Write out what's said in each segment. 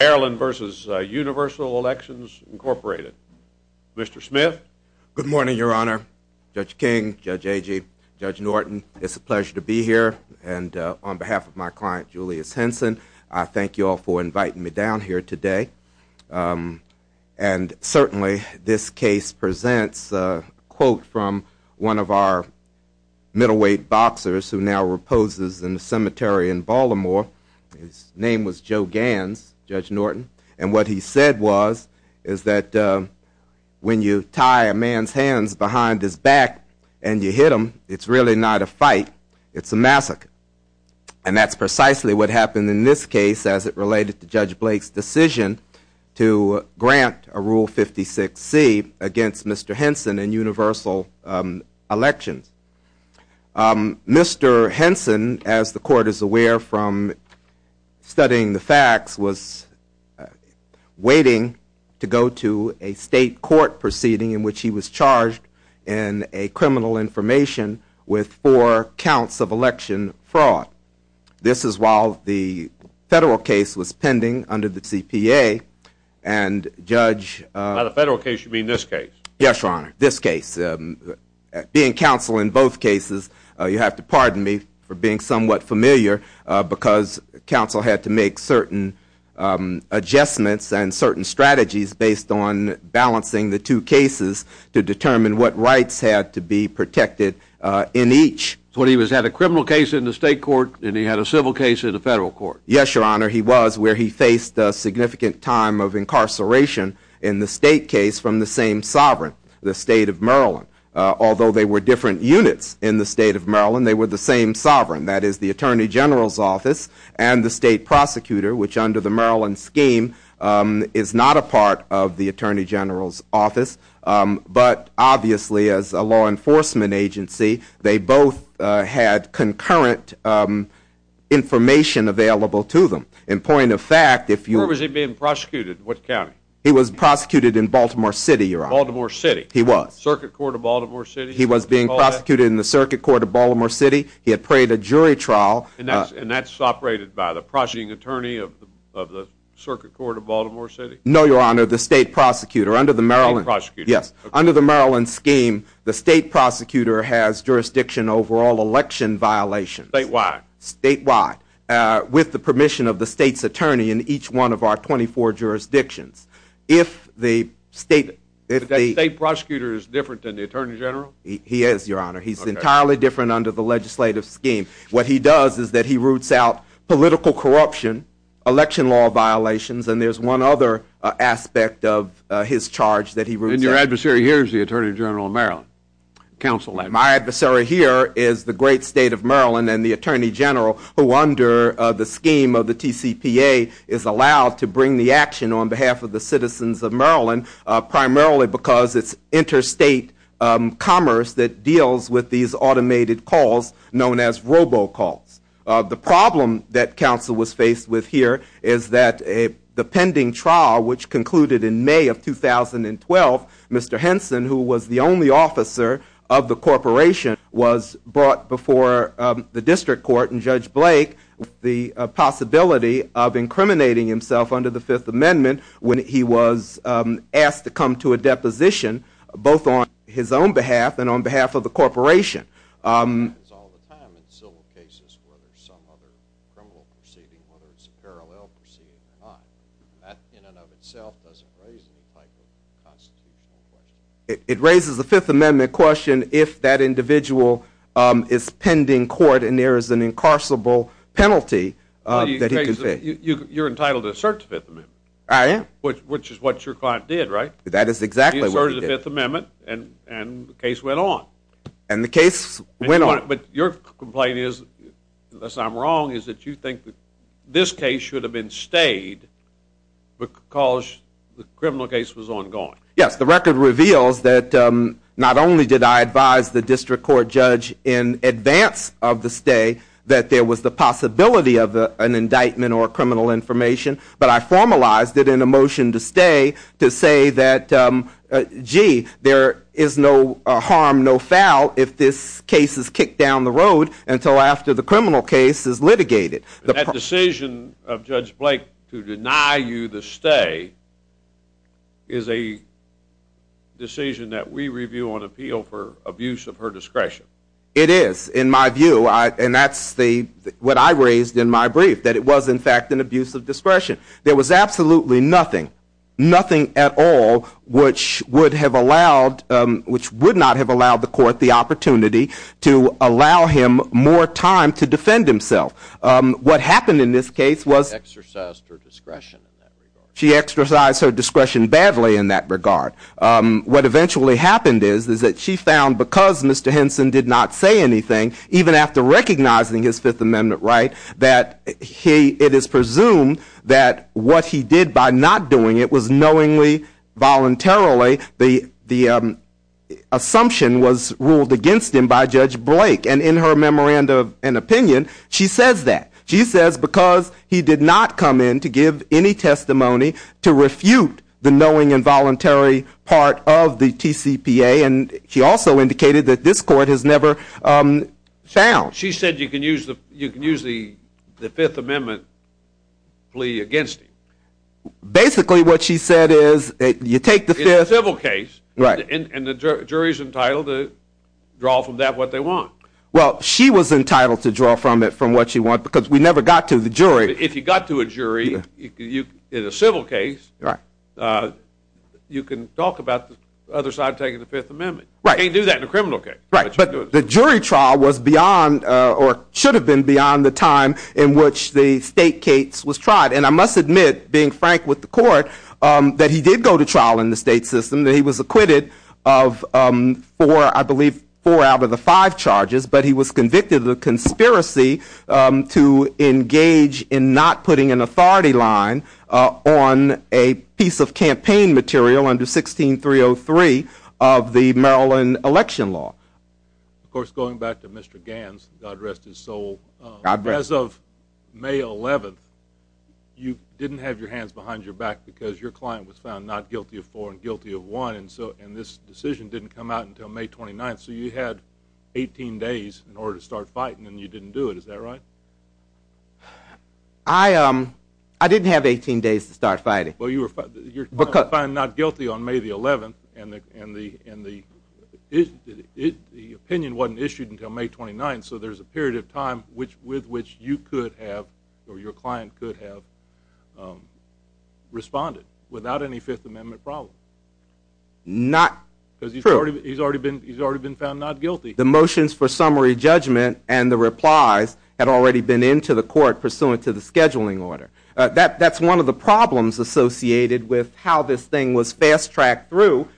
Mr. Smith. Good morning, Your Honor. Judge King, Judge Agee, Judge Norton, it's a pleasure to be here, and on behalf of my client, Julius Henson, I thank you all for inviting me down here today, and certainly this case presents a quote from one of our middleweight boxers who now reposes in a cemetery in Baltimore. His name was Joe Gans, Judge Norton. And what he said was, is that when you tie a man's hands behind his back and you hit him, it's really not a fight, it's a massacre. And that's precisely what happened in this case as it related to Judge Blake's decision to grant a Rule 56C against Mr. Henson in Universal Elections. Mr. Henson, as the Court is aware from studying the facts, was waiting to go to a state court proceeding in which he was charged in a criminal information with four counts of election fraud. This is while the federal case was pending under the CPA, and Judge... By the federal case, you mean this case? Yes, Your Honor, this case. Being counsel in both cases, you have to pardon me for being somewhat familiar, because counsel had to make certain adjustments and certain strategies based on balancing the two cases to determine what rights had to be protected in each. So he had a criminal case in the state court, and he had a civil case in the federal court? Yes, Your Honor, he was, where he faced a significant time of incarceration in the state case from the same sovereign, the state of Maryland. Although they were different units in the state of Maryland, they were the same sovereign. That is, the Attorney General's office and the state prosecutor, which under the Maryland scheme is not a part of the Attorney General's office. But obviously, as a law enforcement agency, they both had concurrent information available to them. In point of fact, if you... Where was he being prosecuted? What county? He was prosecuted in Baltimore City, Your Honor. Baltimore City? He was. Circuit Court of Baltimore City? He was being prosecuted in the Circuit Court of Baltimore City. He had prayed a jury trial... And that's operated by the prosecuting attorney of the Circuit Court of Baltimore City? No, Your Honor, the state prosecutor under the Maryland... Yes, under the Maryland scheme, the state prosecutor has jurisdiction over all election violations. Statewide? Statewide, with the permission of the state's attorney in each one of our 24 jurisdictions. If the state... The state prosecutor is different than the Attorney General? He is, Your Honor. He's entirely different under the legislative scheme. What he does is that he roots out political corruption, election law violations, and there's one other aspect of his charge that he roots out. And your adversary here is the Attorney General of Maryland? Counsel? My adversary here is the great state of Maryland and the Attorney General who, under the scheme of the TCPA, is allowed to bring the action on behalf of the citizens of Maryland, primarily because it's interstate commerce that deals with these automated calls known as robocalls. The problem that counsel was faced with here is that the pending trial, which concluded in May of 2012, Mr. Henson, who was the only officer of the corporation, was brought before the district court and Judge Blake, the possibility of incriminating himself under the Fifth Amendment when he was asked to come to a deposition, both on his own behalf and on behalf of the corporation. It happens all the time in civil cases where there's some other criminal proceeding, whether it's a parallel proceeding or not. That in and of itself doesn't raise the type of constitutional question. It raises the Fifth Amendment question if that individual is pending court and there is an incarcerable penalty that he can face. You're entitled to assert the Fifth Amendment. I am. Which is what your client did, right? That is exactly what he did. He asserted the Fifth Amendment and the case went on. And the case went on. But your complaint is, unless I'm wrong, is that you think that this case should have been stayed because the criminal case was ongoing. Yes, the record reveals that not only did I advise the district court judge in advance of the stay that there was the possibility of an indictment or criminal information, but I formalized it in a motion to stay to say that, gee, there is no harm, no foul, if this case is kicked down the road until after the criminal case is litigated. That decision of Judge Blake to deny you the stay is a decision that we review on appeal for abuse of her discretion. It is, in my view. And that's what I raised in my brief, that it was, in fact, an abuse of discretion. There was absolutely nothing, nothing at all, which would have allowed, which would not have allowed the court the opportunity to allow him more time to defend himself. What happened in this case was she exercised her discretion badly in that regard. What eventually happened is that she found because Mr. Henson did not say anything, even after recognizing his Fifth Amendment right, that it is presumed that what he did by not doing it was knowingly, voluntarily, the assumption was ruled against him by Judge Blake. And in her memorandum and opinion, she says that. She says because he did not come in to give any testimony to refute the knowing and voluntary part of the TCPA. And she also indicated that this court has never found. She said you can use the Fifth Amendment plea against him. Basically what she said is you take the Fifth. It's a civil case. Right. And the jury is entitled to draw from that what they want. Well, she was entitled to draw from it from what she wants because we never got to the jury. If you got to a jury in a civil case, you can talk about the other side taking the Fifth Amendment. Right. You can't do that in a criminal case. Right. But the jury trial was beyond or should have been beyond the time in which the state case was tried. And I must admit, being frank with the court, that he did go to trial in the state system. He was acquitted of four, I believe, four out of the five charges, but he was convicted of the conspiracy to engage in not putting an authority line on a piece of campaign material under 16303 of the Maryland election law. Of course, going back to Mr. Gans, God rest his soul, as of May 11th, you didn't have your hands behind your back because your client was found not guilty of four and guilty of one, and this decision didn't come out until May 29th, so you had 18 days in order to start fighting, and you didn't do it. Is that right? I didn't have 18 days to start fighting. Well, you were found not guilty on May 11th, and the opinion wasn't issued until May 29th, and so there's a period of time with which you could have or your client could have responded without any Fifth Amendment problem. Not true. Because he's already been found not guilty. The motions for summary judgment and the replies had already been into the court pursuant to the scheduling order. That's one of the problems associated with how this thing was fast-tracked through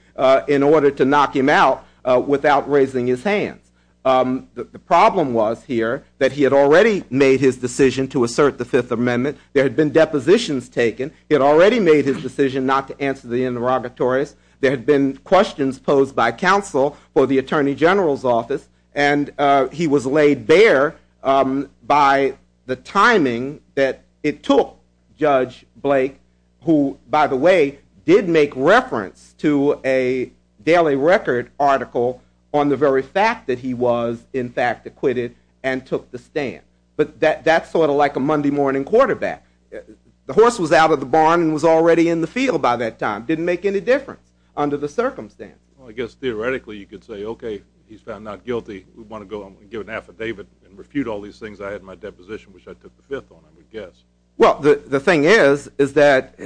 in order to knock him out without raising his hands. The problem was here that he had already made his decision to assert the Fifth Amendment. There had been depositions taken. He had already made his decision not to answer the interrogatories. There had been questions posed by counsel for the Attorney General's office, and he was laid bare by the timing that it took Judge Blake, who, by the way, did make reference to a Daily Record article on the very fact that he was, in fact, acquitted and took the stand. But that's sort of like a Monday morning quarterback. The horse was out of the barn and was already in the field by that time. It didn't make any difference under the circumstance. Well, I guess theoretically you could say, okay, he's found not guilty. We want to go and give an affidavit and refute all these things. I had my deposition, which I took the Fifth on, I would guess. Well, the thing is, and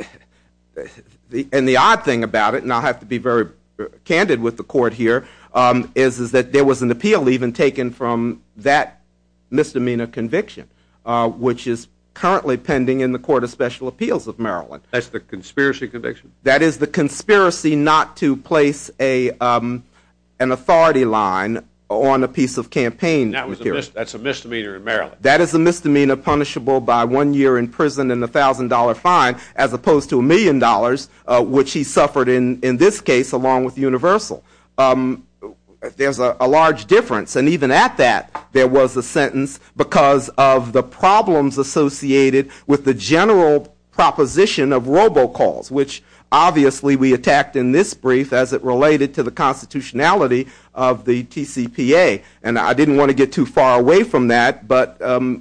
the odd thing about it, and I'll have to be very candid with the court here, is that there was an appeal even taken from that misdemeanor conviction, which is currently pending in the Court of Special Appeals of Maryland. That's the conspiracy conviction? That is the conspiracy not to place an authority line on a piece of campaign material. That's a misdemeanor in Maryland? That is a misdemeanor punishable by one year in prison and a $1,000 fine, as opposed to a million dollars, which he suffered in this case along with Universal. There's a large difference. And even at that, there was a sentence because of the problems associated with the general proposition of robocalls, which obviously we attacked in this brief as it related to the constitutionality of the TCPA. And I didn't want to get too far away from that, but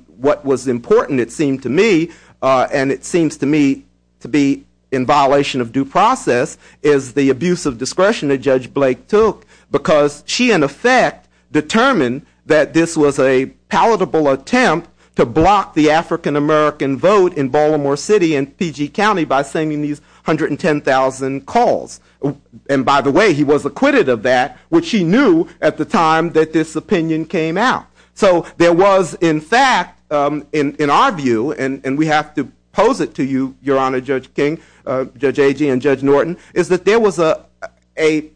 what was important, it seemed to me, and it seems to me to be in violation of due process, is the abuse of discretion that Judge Blake took, because she, in effect, determined that this was a palatable attempt to block the African-American vote in Baltimore City and PG County by sending these 110,000 calls. And by the way, he was acquitted of that, which he knew at the time that this opinion came out. So there was, in fact, in our view, and we have to pose it to you, Your Honor, Judge King, Judge Agee, and Judge Norton, is that there was a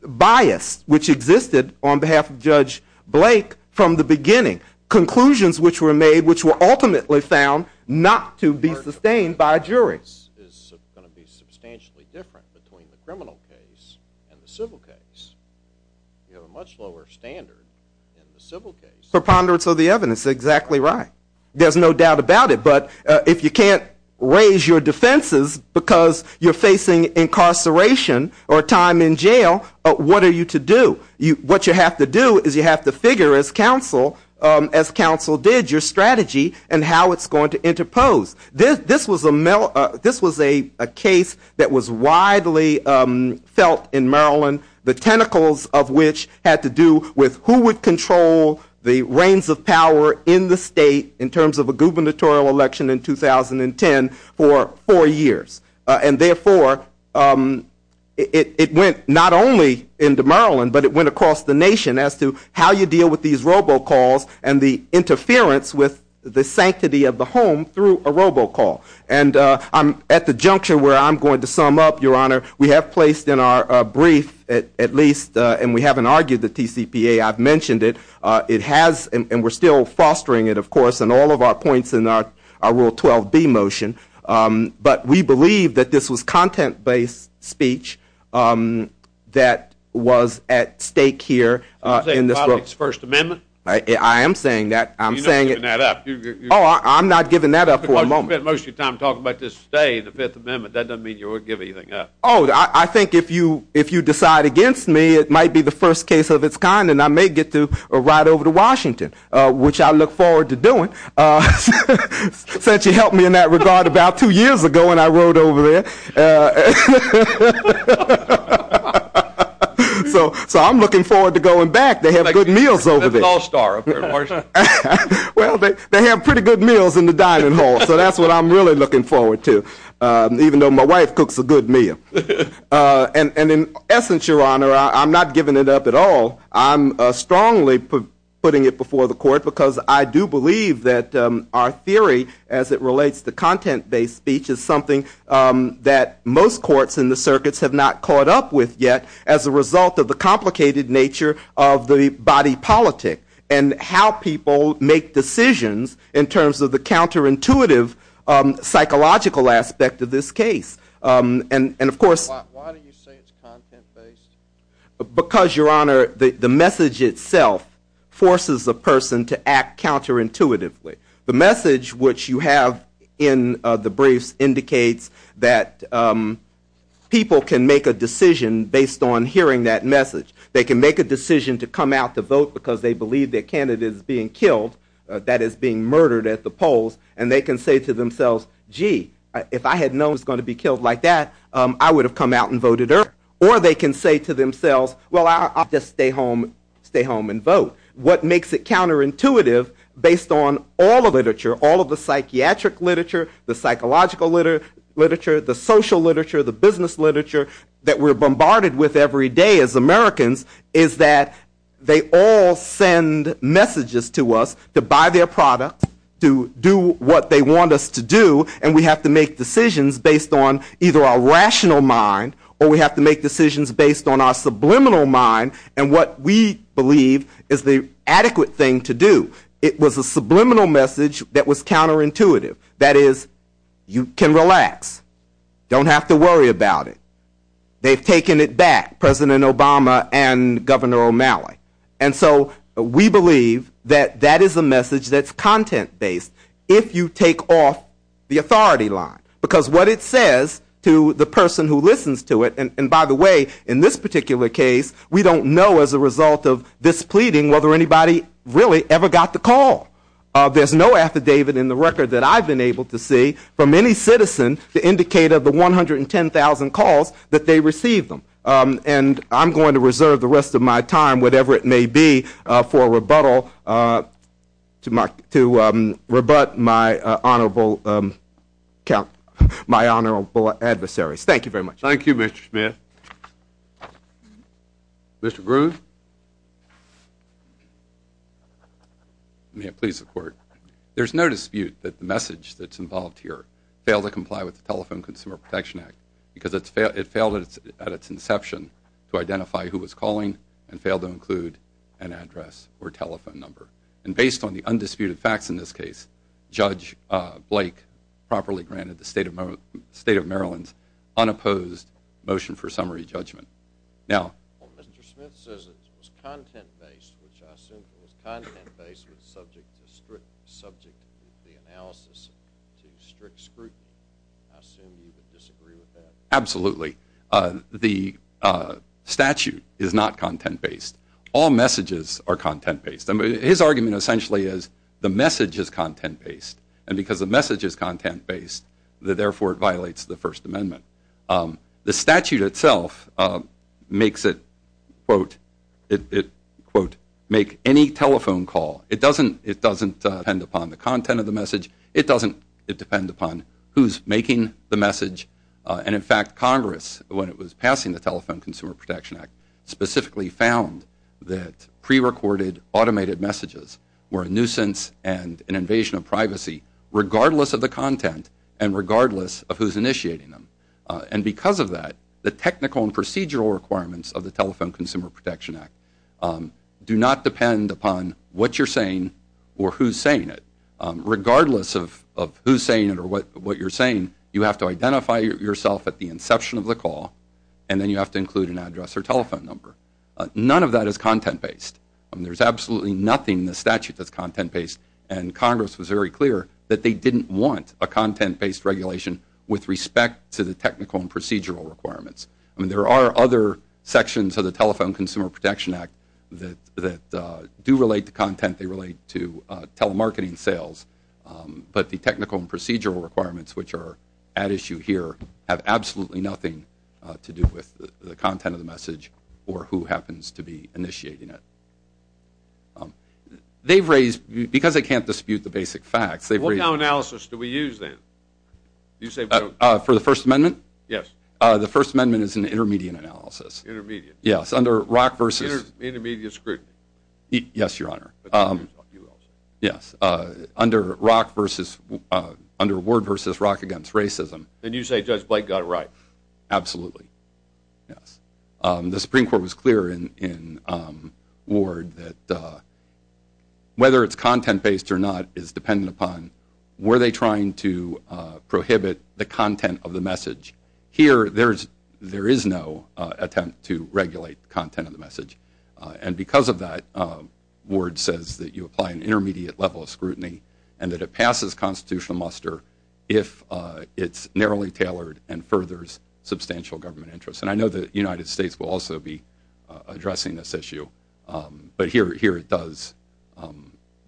bias which existed on behalf of Judge Blake from the beginning. Conclusions which were made which were ultimately found not to be sustained by a jury. This is going to be substantially different between the criminal case and the civil case. You have a much lower standard in the civil case. Preponderance of the evidence, exactly right. There's no doubt about it, but if you can't raise your defenses because you're facing incarceration or time in jail, what are you to do? What you have to do is you have to figure, as counsel did, your strategy and how it's going to interpose. This was a case that was widely felt in Maryland. The tentacles of which had to do with who would control the reins of power in the state in terms of a gubernatorial election in 2010 for four years. And therefore, it went not only into Maryland, but it went across the nation as to how you deal with these robocalls and the interference with the sanctity of the home through a robocall. And I'm at the juncture where I'm going to sum up, Your Honor. We have placed in our brief, at least, and we haven't argued the TCPA. I've mentioned it. It has, and we're still fostering it, of course, in all of our points in our Rule 12B motion. But we believe that this was content-based speech that was at stake here. You're saying politics, First Amendment? I am saying that. You're not giving that up. Oh, I'm not giving that up for a moment. You spend most of your time talking about this today, the Fifth Amendment. That doesn't mean you won't give anything up. Oh, I think if you decide against me, it might be the first case of its kind, and I may get to ride over to Washington, which I look forward to doing, since you helped me in that regard about two years ago when I rode over there. So I'm looking forward to going back. They have good meals over there. Well, they have pretty good meals in the dining hall, so that's what I'm really looking forward to, even though my wife cooks a good meal. And in essence, Your Honor, I'm not giving it up at all. I'm strongly putting it before the Court because I do believe that our theory, as it relates to content-based speech, is something that most courts in the circuits have not caught up with yet as a result of the complicated nature of the body politic and how people make decisions in terms of the counterintuitive psychological aspect of this case. Why do you say it's content-based? Because, Your Honor, the message itself forces a person to act counterintuitively. The message, which you have in the briefs, that people can make a decision based on hearing that message. They can make a decision to come out to vote because they believe their candidate is being killed, that is, being murdered at the polls, and they can say to themselves, gee, if I had known I was going to be killed like that, I would have come out and voted earlier. Or they can say to themselves, well, I'll just stay home and vote. What makes it counterintuitive, based on all the literature, all of the psychiatric literature, the psychological literature, the social literature, the business literature that we're bombarded with every day as Americans, is that they all send messages to us to buy their product, to do what they want us to do, and we have to make decisions based on either our rational mind or we have to make decisions based on our subliminal mind and what we believe is the adequate thing to do. It was a subliminal message that was counterintuitive. That is, you can relax. Don't have to worry about it. They've taken it back, President Obama and Governor O'Malley. And so we believe that that is a message that's content-based if you take off the authority line. Because what it says to the person who listens to it, and by the way, in this particular case, we don't know as a result of this pleading whether anybody really ever got the call. There's no affidavit in the record that I've been able to see from any citizen to indicate of the 110,000 calls that they received them. And I'm going to reserve the rest of my time, whatever it may be, for a rebuttal to rebut my honorable adversaries. Thank you very much. Thank you, Mr. Smith. Mr. Groove? May it please the Court. There's no dispute that the message that's involved here failed to comply with the Telephone Consumer Protection Act because it failed at its inception to identify who was calling and failed to include an address or telephone number. And based on the undisputed facts in this case, Judge Blake properly granted the State of Maryland's unopposed motion for summary judgment. Well, Mr. Smith says it was content-based, which I assume it was content-based subject to the analysis to strict scrutiny. I assume you would disagree with that. Absolutely. The statute is not content-based. All messages are content-based. His argument essentially is the message is content-based, and because the message is content-based, therefore it violates the First Amendment. The statute itself makes it, quote, make any telephone call. It doesn't depend upon the content of the message. It doesn't depend upon who's making the message. And, in fact, Congress, when it was passing the Telephone Consumer Protection Act, specifically found that prerecorded automated messages were a nuisance and an invasion of privacy regardless of the content and regardless of who's initiating them. And because of that, the technical and procedural requirements of the Telephone Consumer Protection Act do not depend upon what you're saying or who's saying it. Regardless of who's saying it or what you're saying, you have to identify yourself at the inception of the call, and then you have to include an address or telephone number. None of that is content-based. I mean, there's absolutely nothing in the statute that's content-based, and Congress was very clear that they didn't want a content-based regulation with respect to the technical and procedural requirements. I mean, there are other sections of the Telephone Consumer Protection Act that do relate to content. They relate to telemarketing sales. But the technical and procedural requirements, which are at issue here, have absolutely nothing to do with the content of the message or who happens to be initiating it. They've raised, because they can't dispute the basic facts, they've raised- What kind of analysis do we use then? For the First Amendment? Yes. The First Amendment is an intermediate analysis. Intermediate. Yes, under rock versus- Intermediate scrutiny. Yes, Your Honor. Yes, under word versus rock against racism. Then you say Judge Blake got it right. Absolutely, yes. The Supreme Court was clear in Ward that whether it's content-based or not is dependent upon were they trying to prohibit the content of the message. Here, there is no attempt to regulate the content of the message. And because of that, Ward says that you apply an intermediate level of scrutiny and that it passes constitutional muster if it's narrowly tailored and furthers substantial government interest. And I know that the United States will also be addressing this issue, but here it does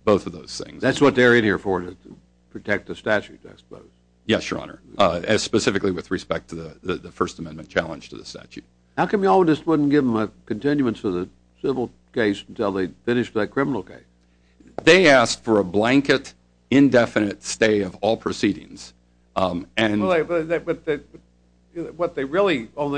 both of those things. That's what they're in here for, to protect the statute, I suppose. Yes, Your Honor. Specifically with respect to the First Amendment challenge to the statute. How come you all just wouldn't give them a continuance of the civil case until they finished that criminal case? They asked for a blanket, indefinite stay of all proceedings. But what they could really have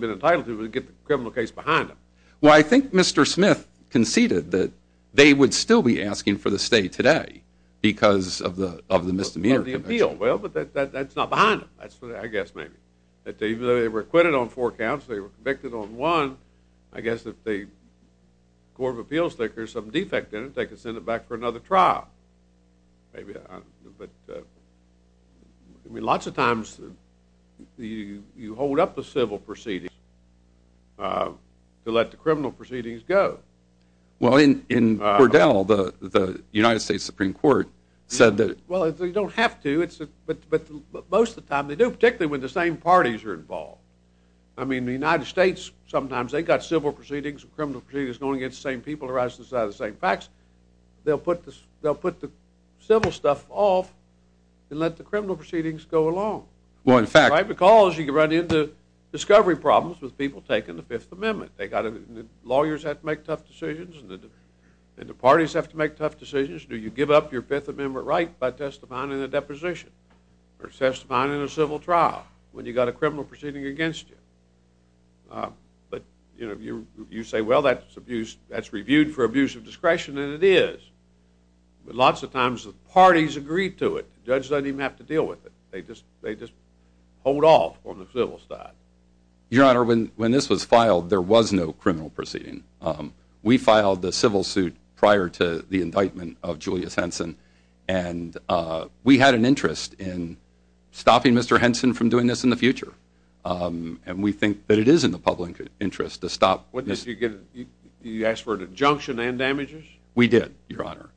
been entitled to was get the criminal case behind them. Well, I think Mr. Smith conceded that they would still be asking for the stay today because of the misdemeanor conviction. Well, but that's not behind them, I guess maybe. Even though they were acquitted on four counts, they were convicted on one. I guess if the Court of Appeals thinks there's some defect in it, they could send it back for another trial. I mean, lots of times you hold up the civil proceedings to let the criminal proceedings go. Well, in Cordell, the United States Supreme Court said that... Well, they don't have to, but most of the time they do, particularly when the same parties are involved. I mean, the United States, sometimes they've got civil proceedings and criminal proceedings going against the same people that arise on the side of the same facts. They'll put the civil stuff off and let the criminal proceedings go along. Because you run into discovery problems with people taking the Fifth Amendment. Lawyers have to make tough decisions and the parties have to make tough decisions. Do you give up your Fifth Amendment right by testifying in a deposition or testifying in a civil trial when you've got a criminal proceeding against you? But you say, well, that's abused. That's reviewed for abuse of discretion, and it is. But lots of times the parties agree to it. The judge doesn't even have to deal with it. They just hold off on the civil side. Your Honor, when this was filed, there was no criminal proceeding. We filed the civil suit prior to the indictment of Julius Henson, and we had an interest in stopping Mr. Henson from doing this in the future, and we think that it is in the public interest to stop this. You asked for an injunction and damages? We did, Your Honor.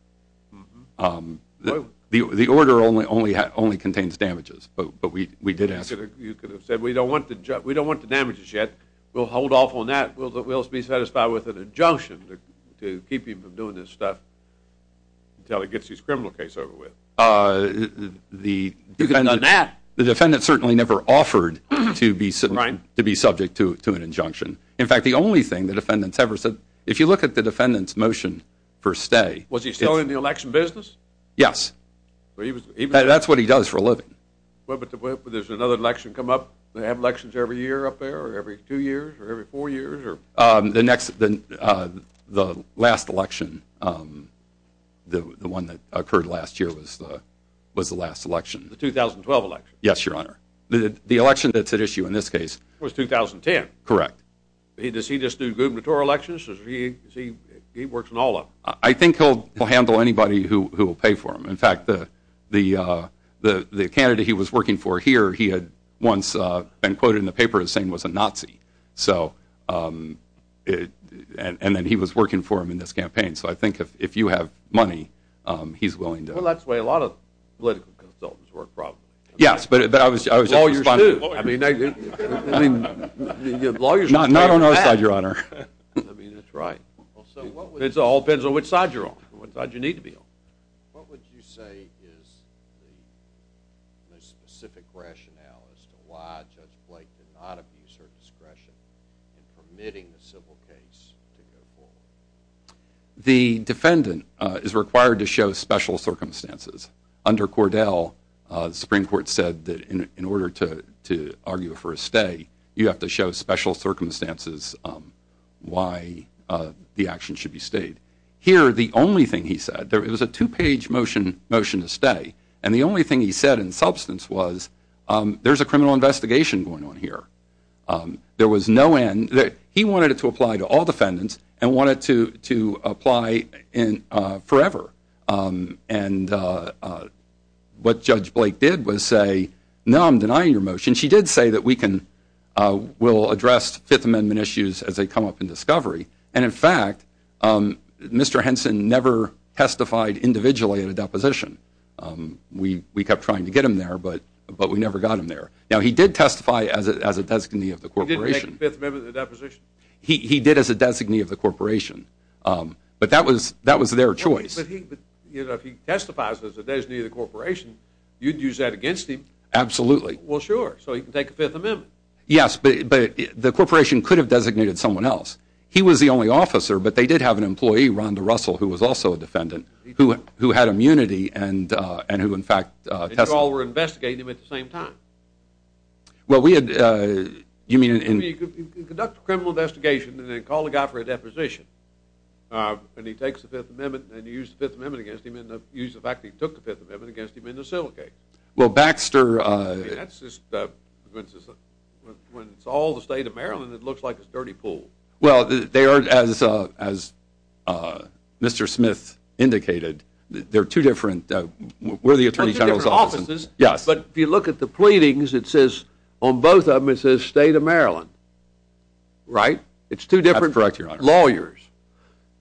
The order only contains damages, but we did ask. You could have said, we don't want the damages yet. We'll hold off on that. We'll be satisfied with an injunction to keep him from doing this stuff until he gets his criminal case over with. The defendant certainly never offered to be subject to an injunction. In fact, the only thing the defendant's ever said, if you look at the defendant's motion for stay. Was he still in the election business? Yes. That's what he does for a living. But does another election come up? Do they have elections every year up there or every two years or every four years? The last election, the one that occurred last year, was the last election. The 2012 election? Yes, Your Honor. The election that's at issue in this case. Was 2010? Correct. Does he just do gubernatorial elections? He works in all of them. I think he'll handle anybody who will pay for him. In fact, the candidate he was working for here, he had once been quoted in the paper as saying he was a Nazi. And then he was working for him in this campaign. So I think if you have money, he's willing to. Well, that's the way a lot of political consultants work probably. Yes, but I was just responding. Lawyers do. I mean, lawyers do. Not on our side, Your Honor. I mean, that's right. It all depends on which side you're on, which side you need to be on. What would you say is the most specific rationale as to why Judge Blake did not abuse her discretion in permitting the civil case to go forward? The defendant is required to show special circumstances. Under Cordell, the Supreme Court said that in order to argue for a stay, you have to show special circumstances why the action should be stayed. Here, the only thing he said, it was a two-page motion to stay, and the only thing he said in substance was, there's a criminal investigation going on here. There was no end. He wanted it to apply to all defendants and wanted it to apply forever. And what Judge Blake did was say, no, I'm denying your motion. She did say that we'll address Fifth Amendment issues as they come up in discovery. And, in fact, Mr. Henson never testified individually in a deposition. We kept trying to get him there, but we never got him there. Now, he did testify as a designee of the corporation. He didn't make Fifth Amendment a deposition? He did as a designee of the corporation, but that was their choice. But if he testifies as a designee of the corporation, you'd use that against him? Absolutely. Well, sure, so he can take Fifth Amendment. Yes, but the corporation could have designated someone else. He was the only officer, but they did have an employee, Rhonda Russell, who was also a defendant, who had immunity and who, in fact, testified. And you all were investigating him at the same time? Well, we had— You conduct a criminal investigation and then call the guy for a deposition, and he takes the Fifth Amendment and you use the Fifth Amendment against him and use the fact that he took the Fifth Amendment against him in the civil case. Well, Baxter— I mean, that's just—when it's all the state of Maryland, it looks like a dirty pool. Well, they are, as Mr. Smith indicated, they're two different—we're the Attorney General's office. They're two different offices. Yes. But if you look at the pleadings, it says—on both of them, it says state of Maryland. Right? That's correct, Your Honor. It's two different lawyers.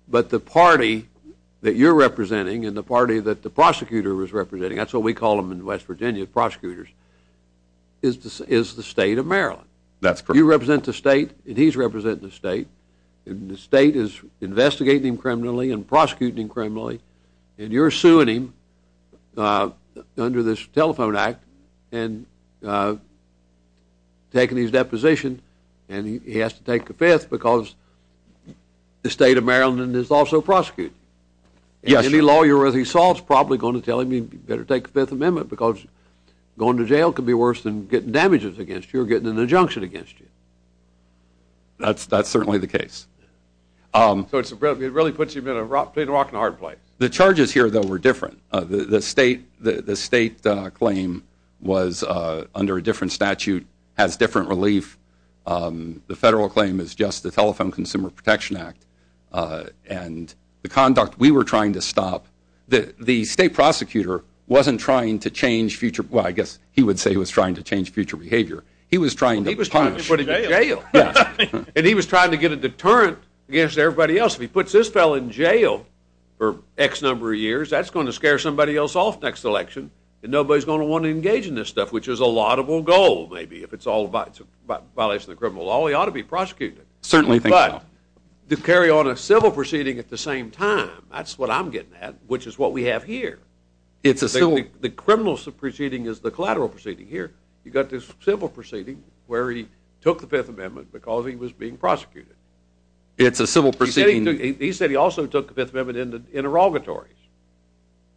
But the party that you're representing and the party that the prosecutor was representing— is the state of Maryland. That's correct. You represent the state, and he's representing the state, and the state is investigating him criminally and prosecuting him criminally, and you're suing him under this Telephone Act and taking his deposition, and he has to take the Fifth because the state of Maryland is also prosecuting him. Yes, Your Honor. And any lawyer, as he solves, is probably going to tell him, you better take the Fifth Amendment because going to jail could be worse than getting damages against you or getting an injunction against you. That's certainly the case. So it really puts you in a rock and a hard place. The charges here, though, were different. The state claim was under a different statute, has different relief. The federal claim is just the Telephone Consumer Protection Act, and the conduct we were trying to stop. The state prosecutor wasn't trying to change future— well, I guess he would say he was trying to change future behavior. He was trying to punish. He was trying to put him in jail. And he was trying to get a deterrent against everybody else. If he puts this fellow in jail for X number of years, that's going to scare somebody else off next election, and nobody's going to want to engage in this stuff, which is a laudable goal, maybe, if it's all about violation of the criminal law. He ought to be prosecuted. Certainly think so. But to carry on a civil proceeding at the same time, that's what I'm getting at. Which is what we have here. It's a civil— The criminal proceeding is the collateral proceeding here. You've got this civil proceeding where he took the Fifth Amendment because he was being prosecuted. It's a civil proceeding— He said he also took the Fifth Amendment in the interrogatories.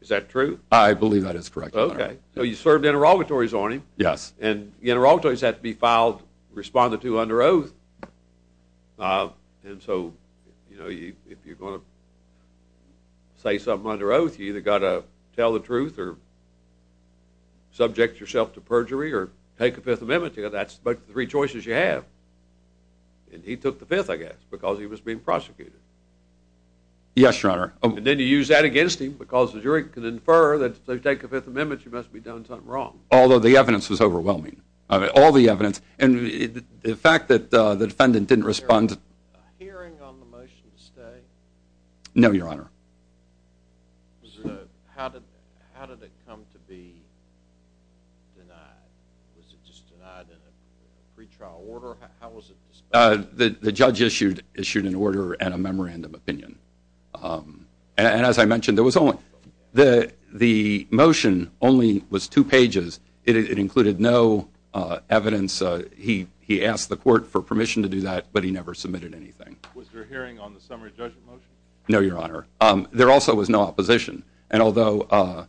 Is that true? I believe that is correct, Your Honor. Okay. So you served interrogatories on him. Yes. And the interrogatories had to be filed, responded to under oath. And so, you know, if you're going to say something under oath, you either got to tell the truth or subject yourself to perjury or take the Fifth Amendment. That's the three choices you have. And he took the Fifth, I guess, because he was being prosecuted. Yes, Your Honor. And then you use that against him because the jury can infer that if they take the Fifth Amendment, you must have done something wrong. Although the evidence is overwhelming. All the evidence. And the fact that the defendant didn't respond— Was there a hearing on the motion to stay? No, Your Honor. How did it come to be denied? Was it just denied in a pretrial order? How was it disposed of? The judge issued an order and a memorandum of opinion. And as I mentioned, the motion only was two pages. It included no evidence. He asked the court for permission to do that, but he never submitted anything. Was there a hearing on the summary judgment motion? No, Your Honor. There also was no opposition. You can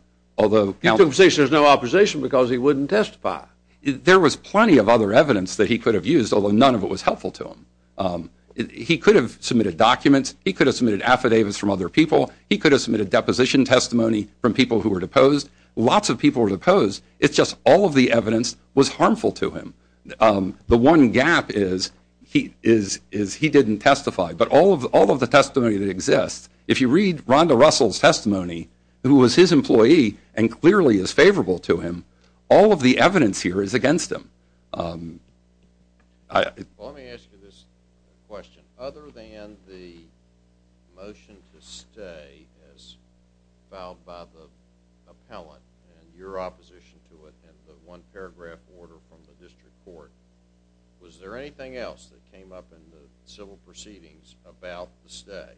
say there's no opposition because he wouldn't testify. There was plenty of other evidence that he could have used, although none of it was helpful to him. He could have submitted documents. He could have submitted affidavits from other people. He could have submitted deposition testimony from people who were deposed. Lots of people were deposed. It's just all of the evidence was harmful to him. The one gap is he didn't testify. But all of the testimony that exists, if you read Rhonda Russell's testimony, who was his employee and clearly is favorable to him, all of the evidence here is against him. Let me ask you this question. Other than the motion to stay as filed by the appellant and your opposition to it and the one paragraph order from the district court, was there anything else that came up in the civil proceedings about the stay?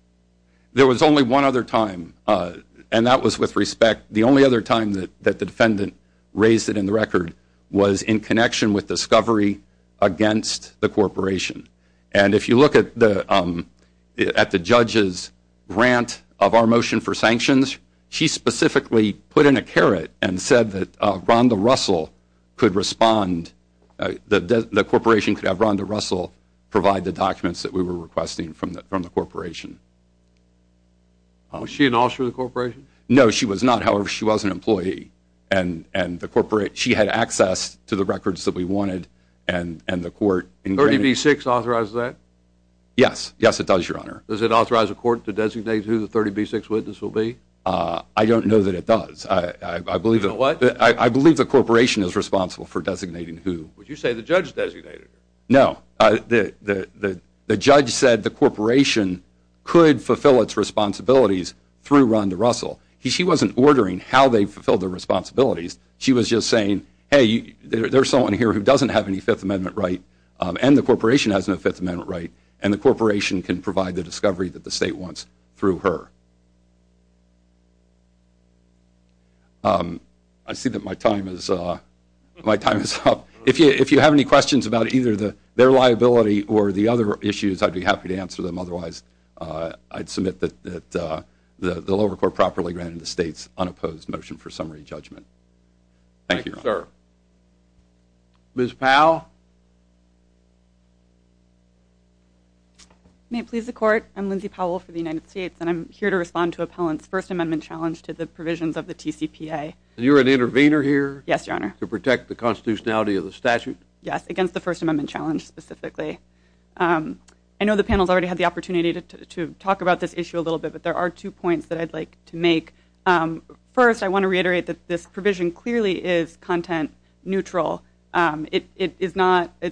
There was only one other time, and that was with respect. The only other time that the defendant raised it in the record was in connection with discovery against the corporation. And if you look at the judge's grant of our motion for sanctions, she specifically put in a caret and said that Rhonda Russell could respond, that the corporation could have Rhonda Russell provide the documents that we were requesting from the corporation. Was she an officer of the corporation? No, she was not. However, she was an employee, and she had access to the records that we wanted 30B6 authorizes that? Yes, it does, Your Honor. Does it authorize the court to designate who the 30B6 witness will be? I don't know that it does. I believe the corporation is responsible for designating who. Would you say the judge designated her? No. The judge said the corporation could fulfill its responsibilities through Rhonda Russell. She wasn't ordering how they fulfilled their responsibilities. She was just saying, hey, there's someone here who doesn't have any Fifth Amendment right, and the corporation has no Fifth Amendment right, and the corporation can provide the discovery that the state wants through her. I see that my time is up. If you have any questions about either their liability or the other issues, I'd be happy to answer them. Otherwise, I'd submit that the lower court properly granted the state's unopposed motion for summary judgment. Thank you, Your Honor. Thank you, sir. Ms. Powell? May it please the Court, I'm Lindsay Powell for the United States, and I'm here to respond to Appellant's First Amendment challenge to the provisions of the TCPA. And you're an intervener here? Yes, Your Honor. To protect the constitutionality of the statute? Yes, against the First Amendment challenge specifically. I know the panel has already had the opportunity to talk about this issue a little bit, but there are two points that I'd like to make. First, I want to reiterate that this provision clearly is content neutral. Its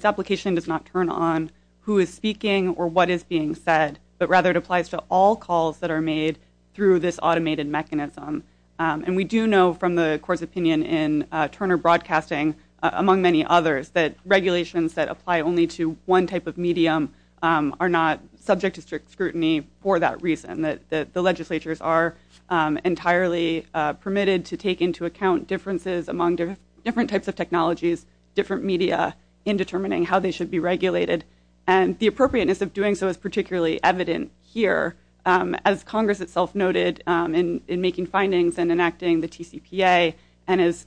application does not turn on who is speaking or what is being said, but rather it applies to all calls that are made through this automated mechanism. And we do know from the Court's opinion in Turner Broadcasting, among many others, that regulations that apply only to one type of medium are not subject to strict scrutiny for that reason, that the legislatures are entirely permitted to take into account differences among different types of technologies, different media, in determining how they should be regulated. And the appropriateness of doing so is particularly evident here. As Congress itself noted in making findings and enacting the TCPA, and as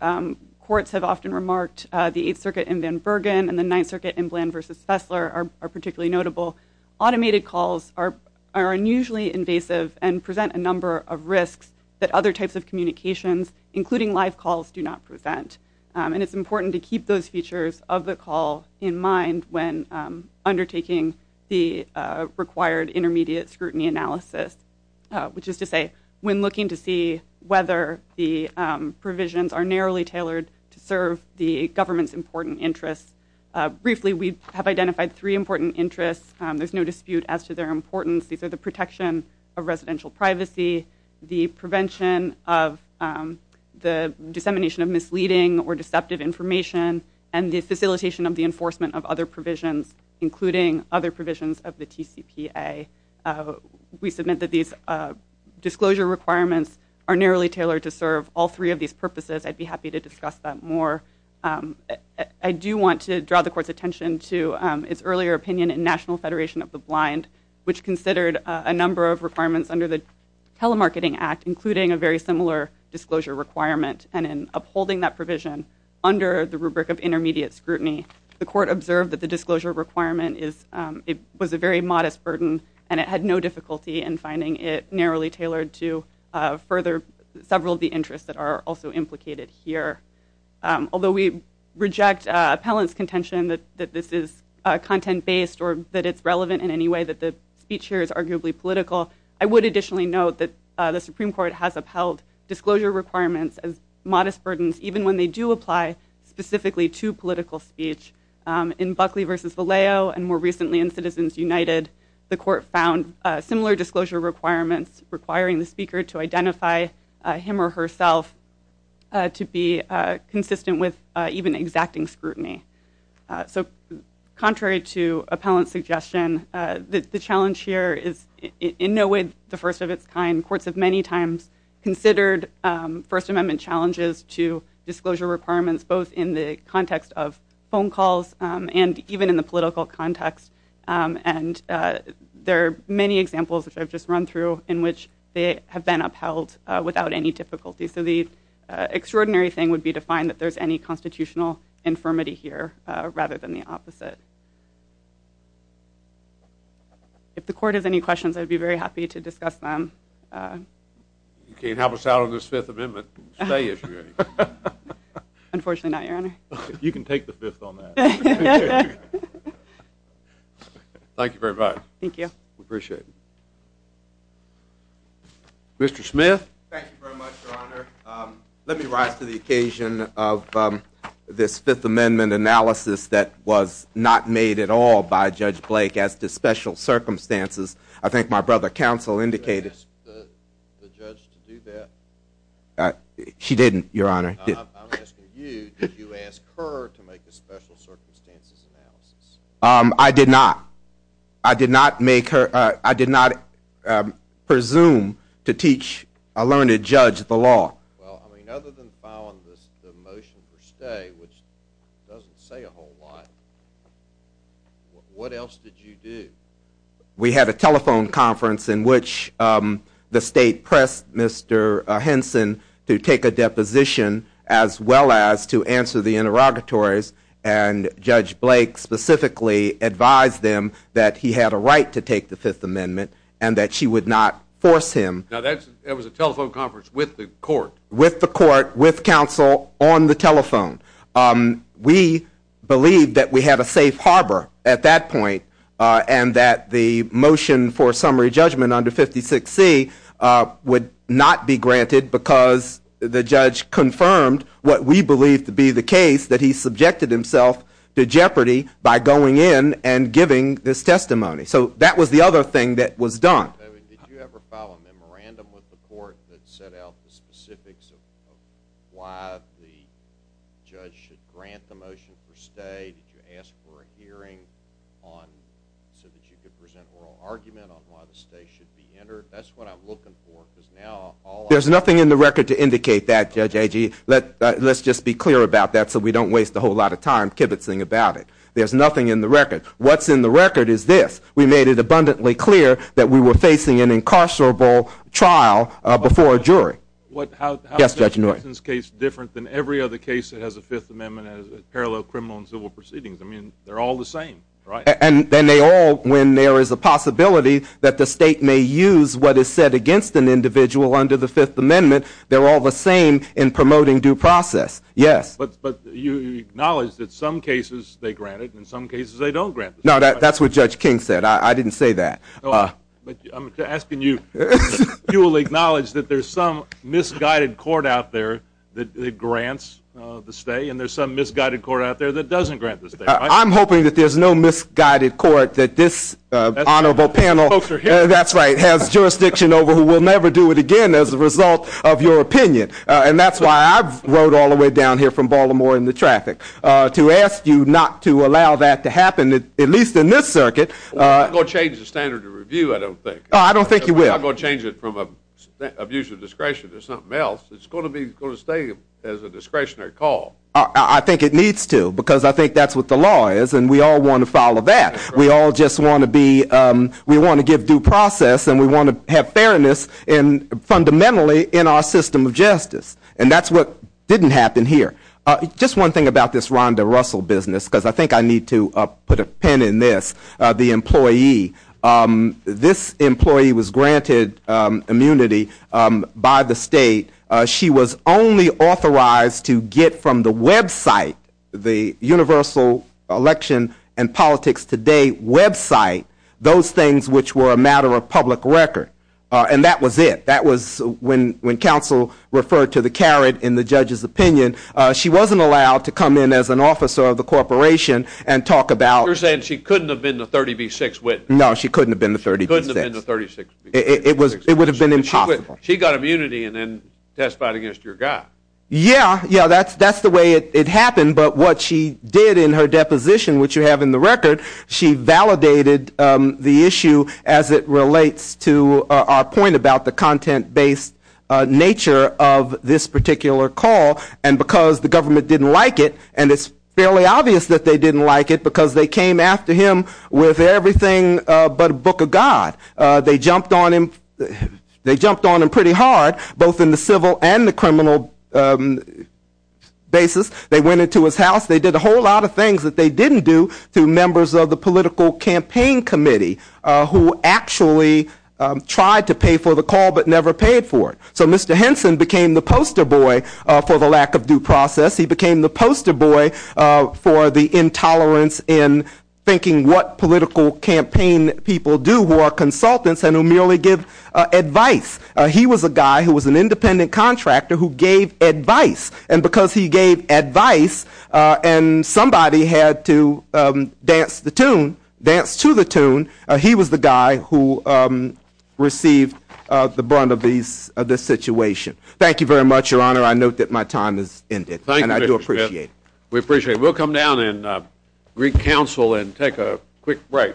courts have often remarked, the Eighth Circuit in Van Bergen and the Ninth Circuit in Bland v. Fessler are particularly notable. Automated calls are unusually invasive and present a number of risks that other types of communications, including live calls, do not present. And it's important to keep those features of the call in mind when undertaking the required intermediate scrutiny analysis, which is to say when looking to see whether the provisions are narrowly tailored to serve the government's important interests. Briefly, we have identified three important interests. There's no dispute as to their importance. These are the protection of residential privacy, the prevention of the dissemination of misleading or deceptive information, and the facilitation of the enforcement of other provisions, including other provisions of the TCPA. We submit that these disclosure requirements are narrowly tailored to serve all three of these purposes. I'd be happy to discuss that more. I do want to draw the Court's attention to its earlier opinion in National Federation of the Blind, which considered a number of requirements under the Telemarketing Act, including a very similar disclosure requirement. And in upholding that provision under the rubric of intermediate scrutiny, the Court observed that the disclosure requirement was a very modest burden and it had no difficulty in finding it narrowly tailored to further several of the interests that are also implicated here. Although we reject appellant's contention that this is content-based or that it's relevant in any way that the speech here is arguably political, I would additionally note that the Supreme Court has upheld disclosure requirements as modest burdens even when they do apply specifically to political speech. In Buckley v. Valeo and more recently in Citizens United, the Court found similar disclosure requirements requiring the speaker to identify him or herself to be consistent with even exacting scrutiny. So contrary to appellant's suggestion, the challenge here is in no way the first of its kind. Courts have many times considered First Amendment challenges to disclosure requirements both in the context of phone calls and even in the political context. And there are many examples, which I've just run through, in which they have been upheld without any difficulty. So the extraordinary thing would be to find that there's any constitutional infirmity here rather than the opposite. If the Court has any questions, I'd be very happy to discuss them. You can't have us out on this Fifth Amendment. Unfortunately not, Your Honor. You can take the Fifth on that. Thank you very much. Thank you. We appreciate it. Mr. Smith? Thank you very much, Your Honor. Let me rise to the occasion of this Fifth Amendment analysis that was not made at all by Judge Blake as to special circumstances. I think my brother counsel indicated. Did you ask the judge to do that? She didn't, Your Honor. I'm asking you, did you ask her to make the special circumstances analysis? I did not. I did not presume to teach a learned judge the law. Well, I mean, other than filing the motion for stay, which doesn't say a whole lot, what else did you do? We had a telephone conference in which the State pressed Mr. Henson to take a deposition as well as to answer the interrogatories. And Judge Blake specifically advised them that he had a right to take the Fifth Amendment and that she would not force him. Now, that was a telephone conference with the court. With the court, with counsel, on the telephone. We believed that we had a safe harbor at that point and that the motion for summary judgment under 56C would not be granted because the judge confirmed what we believed to be the case, that he subjected himself to jeopardy by going in and giving this testimony. So that was the other thing that was done. Did you ever file a memorandum with the court that set out the specifics of why the judge should grant the motion for stay? Did you ask for a hearing so that you could present oral argument on why the stay should be entered? That's what I'm looking for. There's nothing in the record to indicate that, Judge Agee. Let's just be clear about that so we don't waste a whole lot of time kibitzing about it. There's nothing in the record. What's in the record is this. We made it abundantly clear that we were facing an incarcerable trial before a jury. How is Judge Henson's case different than every other case that has a Fifth Amendment as a parallel criminal and civil proceedings? I mean, they're all the same, right? And then they all, when there is a possibility that the state may use what is said against an individual under the Fifth Amendment, they're all the same in promoting due process. Yes. But you acknowledge that some cases they grant it and some cases they don't grant the stay. No, that's what Judge King said. I didn't say that. I'm asking you if you will acknowledge that there's some misguided court out there that grants the stay and there's some misguided court out there that doesn't grant the stay. I'm hoping that there's no misguided court that this honorable panel has jurisdiction over who will never do it again as a result of your opinion. And that's why I rode all the way down here from Baltimore in the traffic to ask you not to allow that to happen, at least in this circuit. I'm not going to change the standard of review, I don't think. I don't think you will. I'm not going to change it from abuse of discretion to something else. It's going to stay as a discretionary call. I think it needs to because I think that's what the law is and we all want to follow that. We all just want to be, we want to give due process and we want to have fairness fundamentally in our system of justice. And that's what didn't happen here. Just one thing about this Rhonda Russell business because I think I need to put a pin in this. The employee, this employee was granted immunity by the state. She was only authorized to get from the website, the universal election and politics today website, those things which were a matter of public record. And that was it. That was when counsel referred to the carrot in the judge's opinion, she wasn't allowed to come in as an officer of the corporation and talk about. You're saying she couldn't have been the 30B6 witness. No, she couldn't have been the 30B6. She couldn't have been the 30B6 witness. It would have been impossible. She got immunity and then testified against your guy. Yeah, yeah, that's the way it happened. But what she did in her deposition, which you have in the record, she validated the issue as it relates to our point about the content-based nature of this particular call. And because the government didn't like it, and it's fairly obvious that they didn't like it because they came after him with everything but a book of God. They jumped on him pretty hard, both in the civil and the criminal basis. They went into his house. They did a whole lot of things that they didn't do to members of the political campaign committee who actually tried to pay for the call but never paid for it. So Mr. Henson became the poster boy for the lack of due process. He became the poster boy for the intolerance in thinking what political campaign people do who are consultants and who merely give advice. He was a guy who was an independent contractor who gave advice, and because he gave advice and somebody had to dance to the tune, he was the guy who received the brunt of this situation. Thank you very much, Your Honor. I note that my time has ended, and I do appreciate it. Thank you, Mr. Smith. We appreciate it. We'll come down in Greek Council and take a quick break.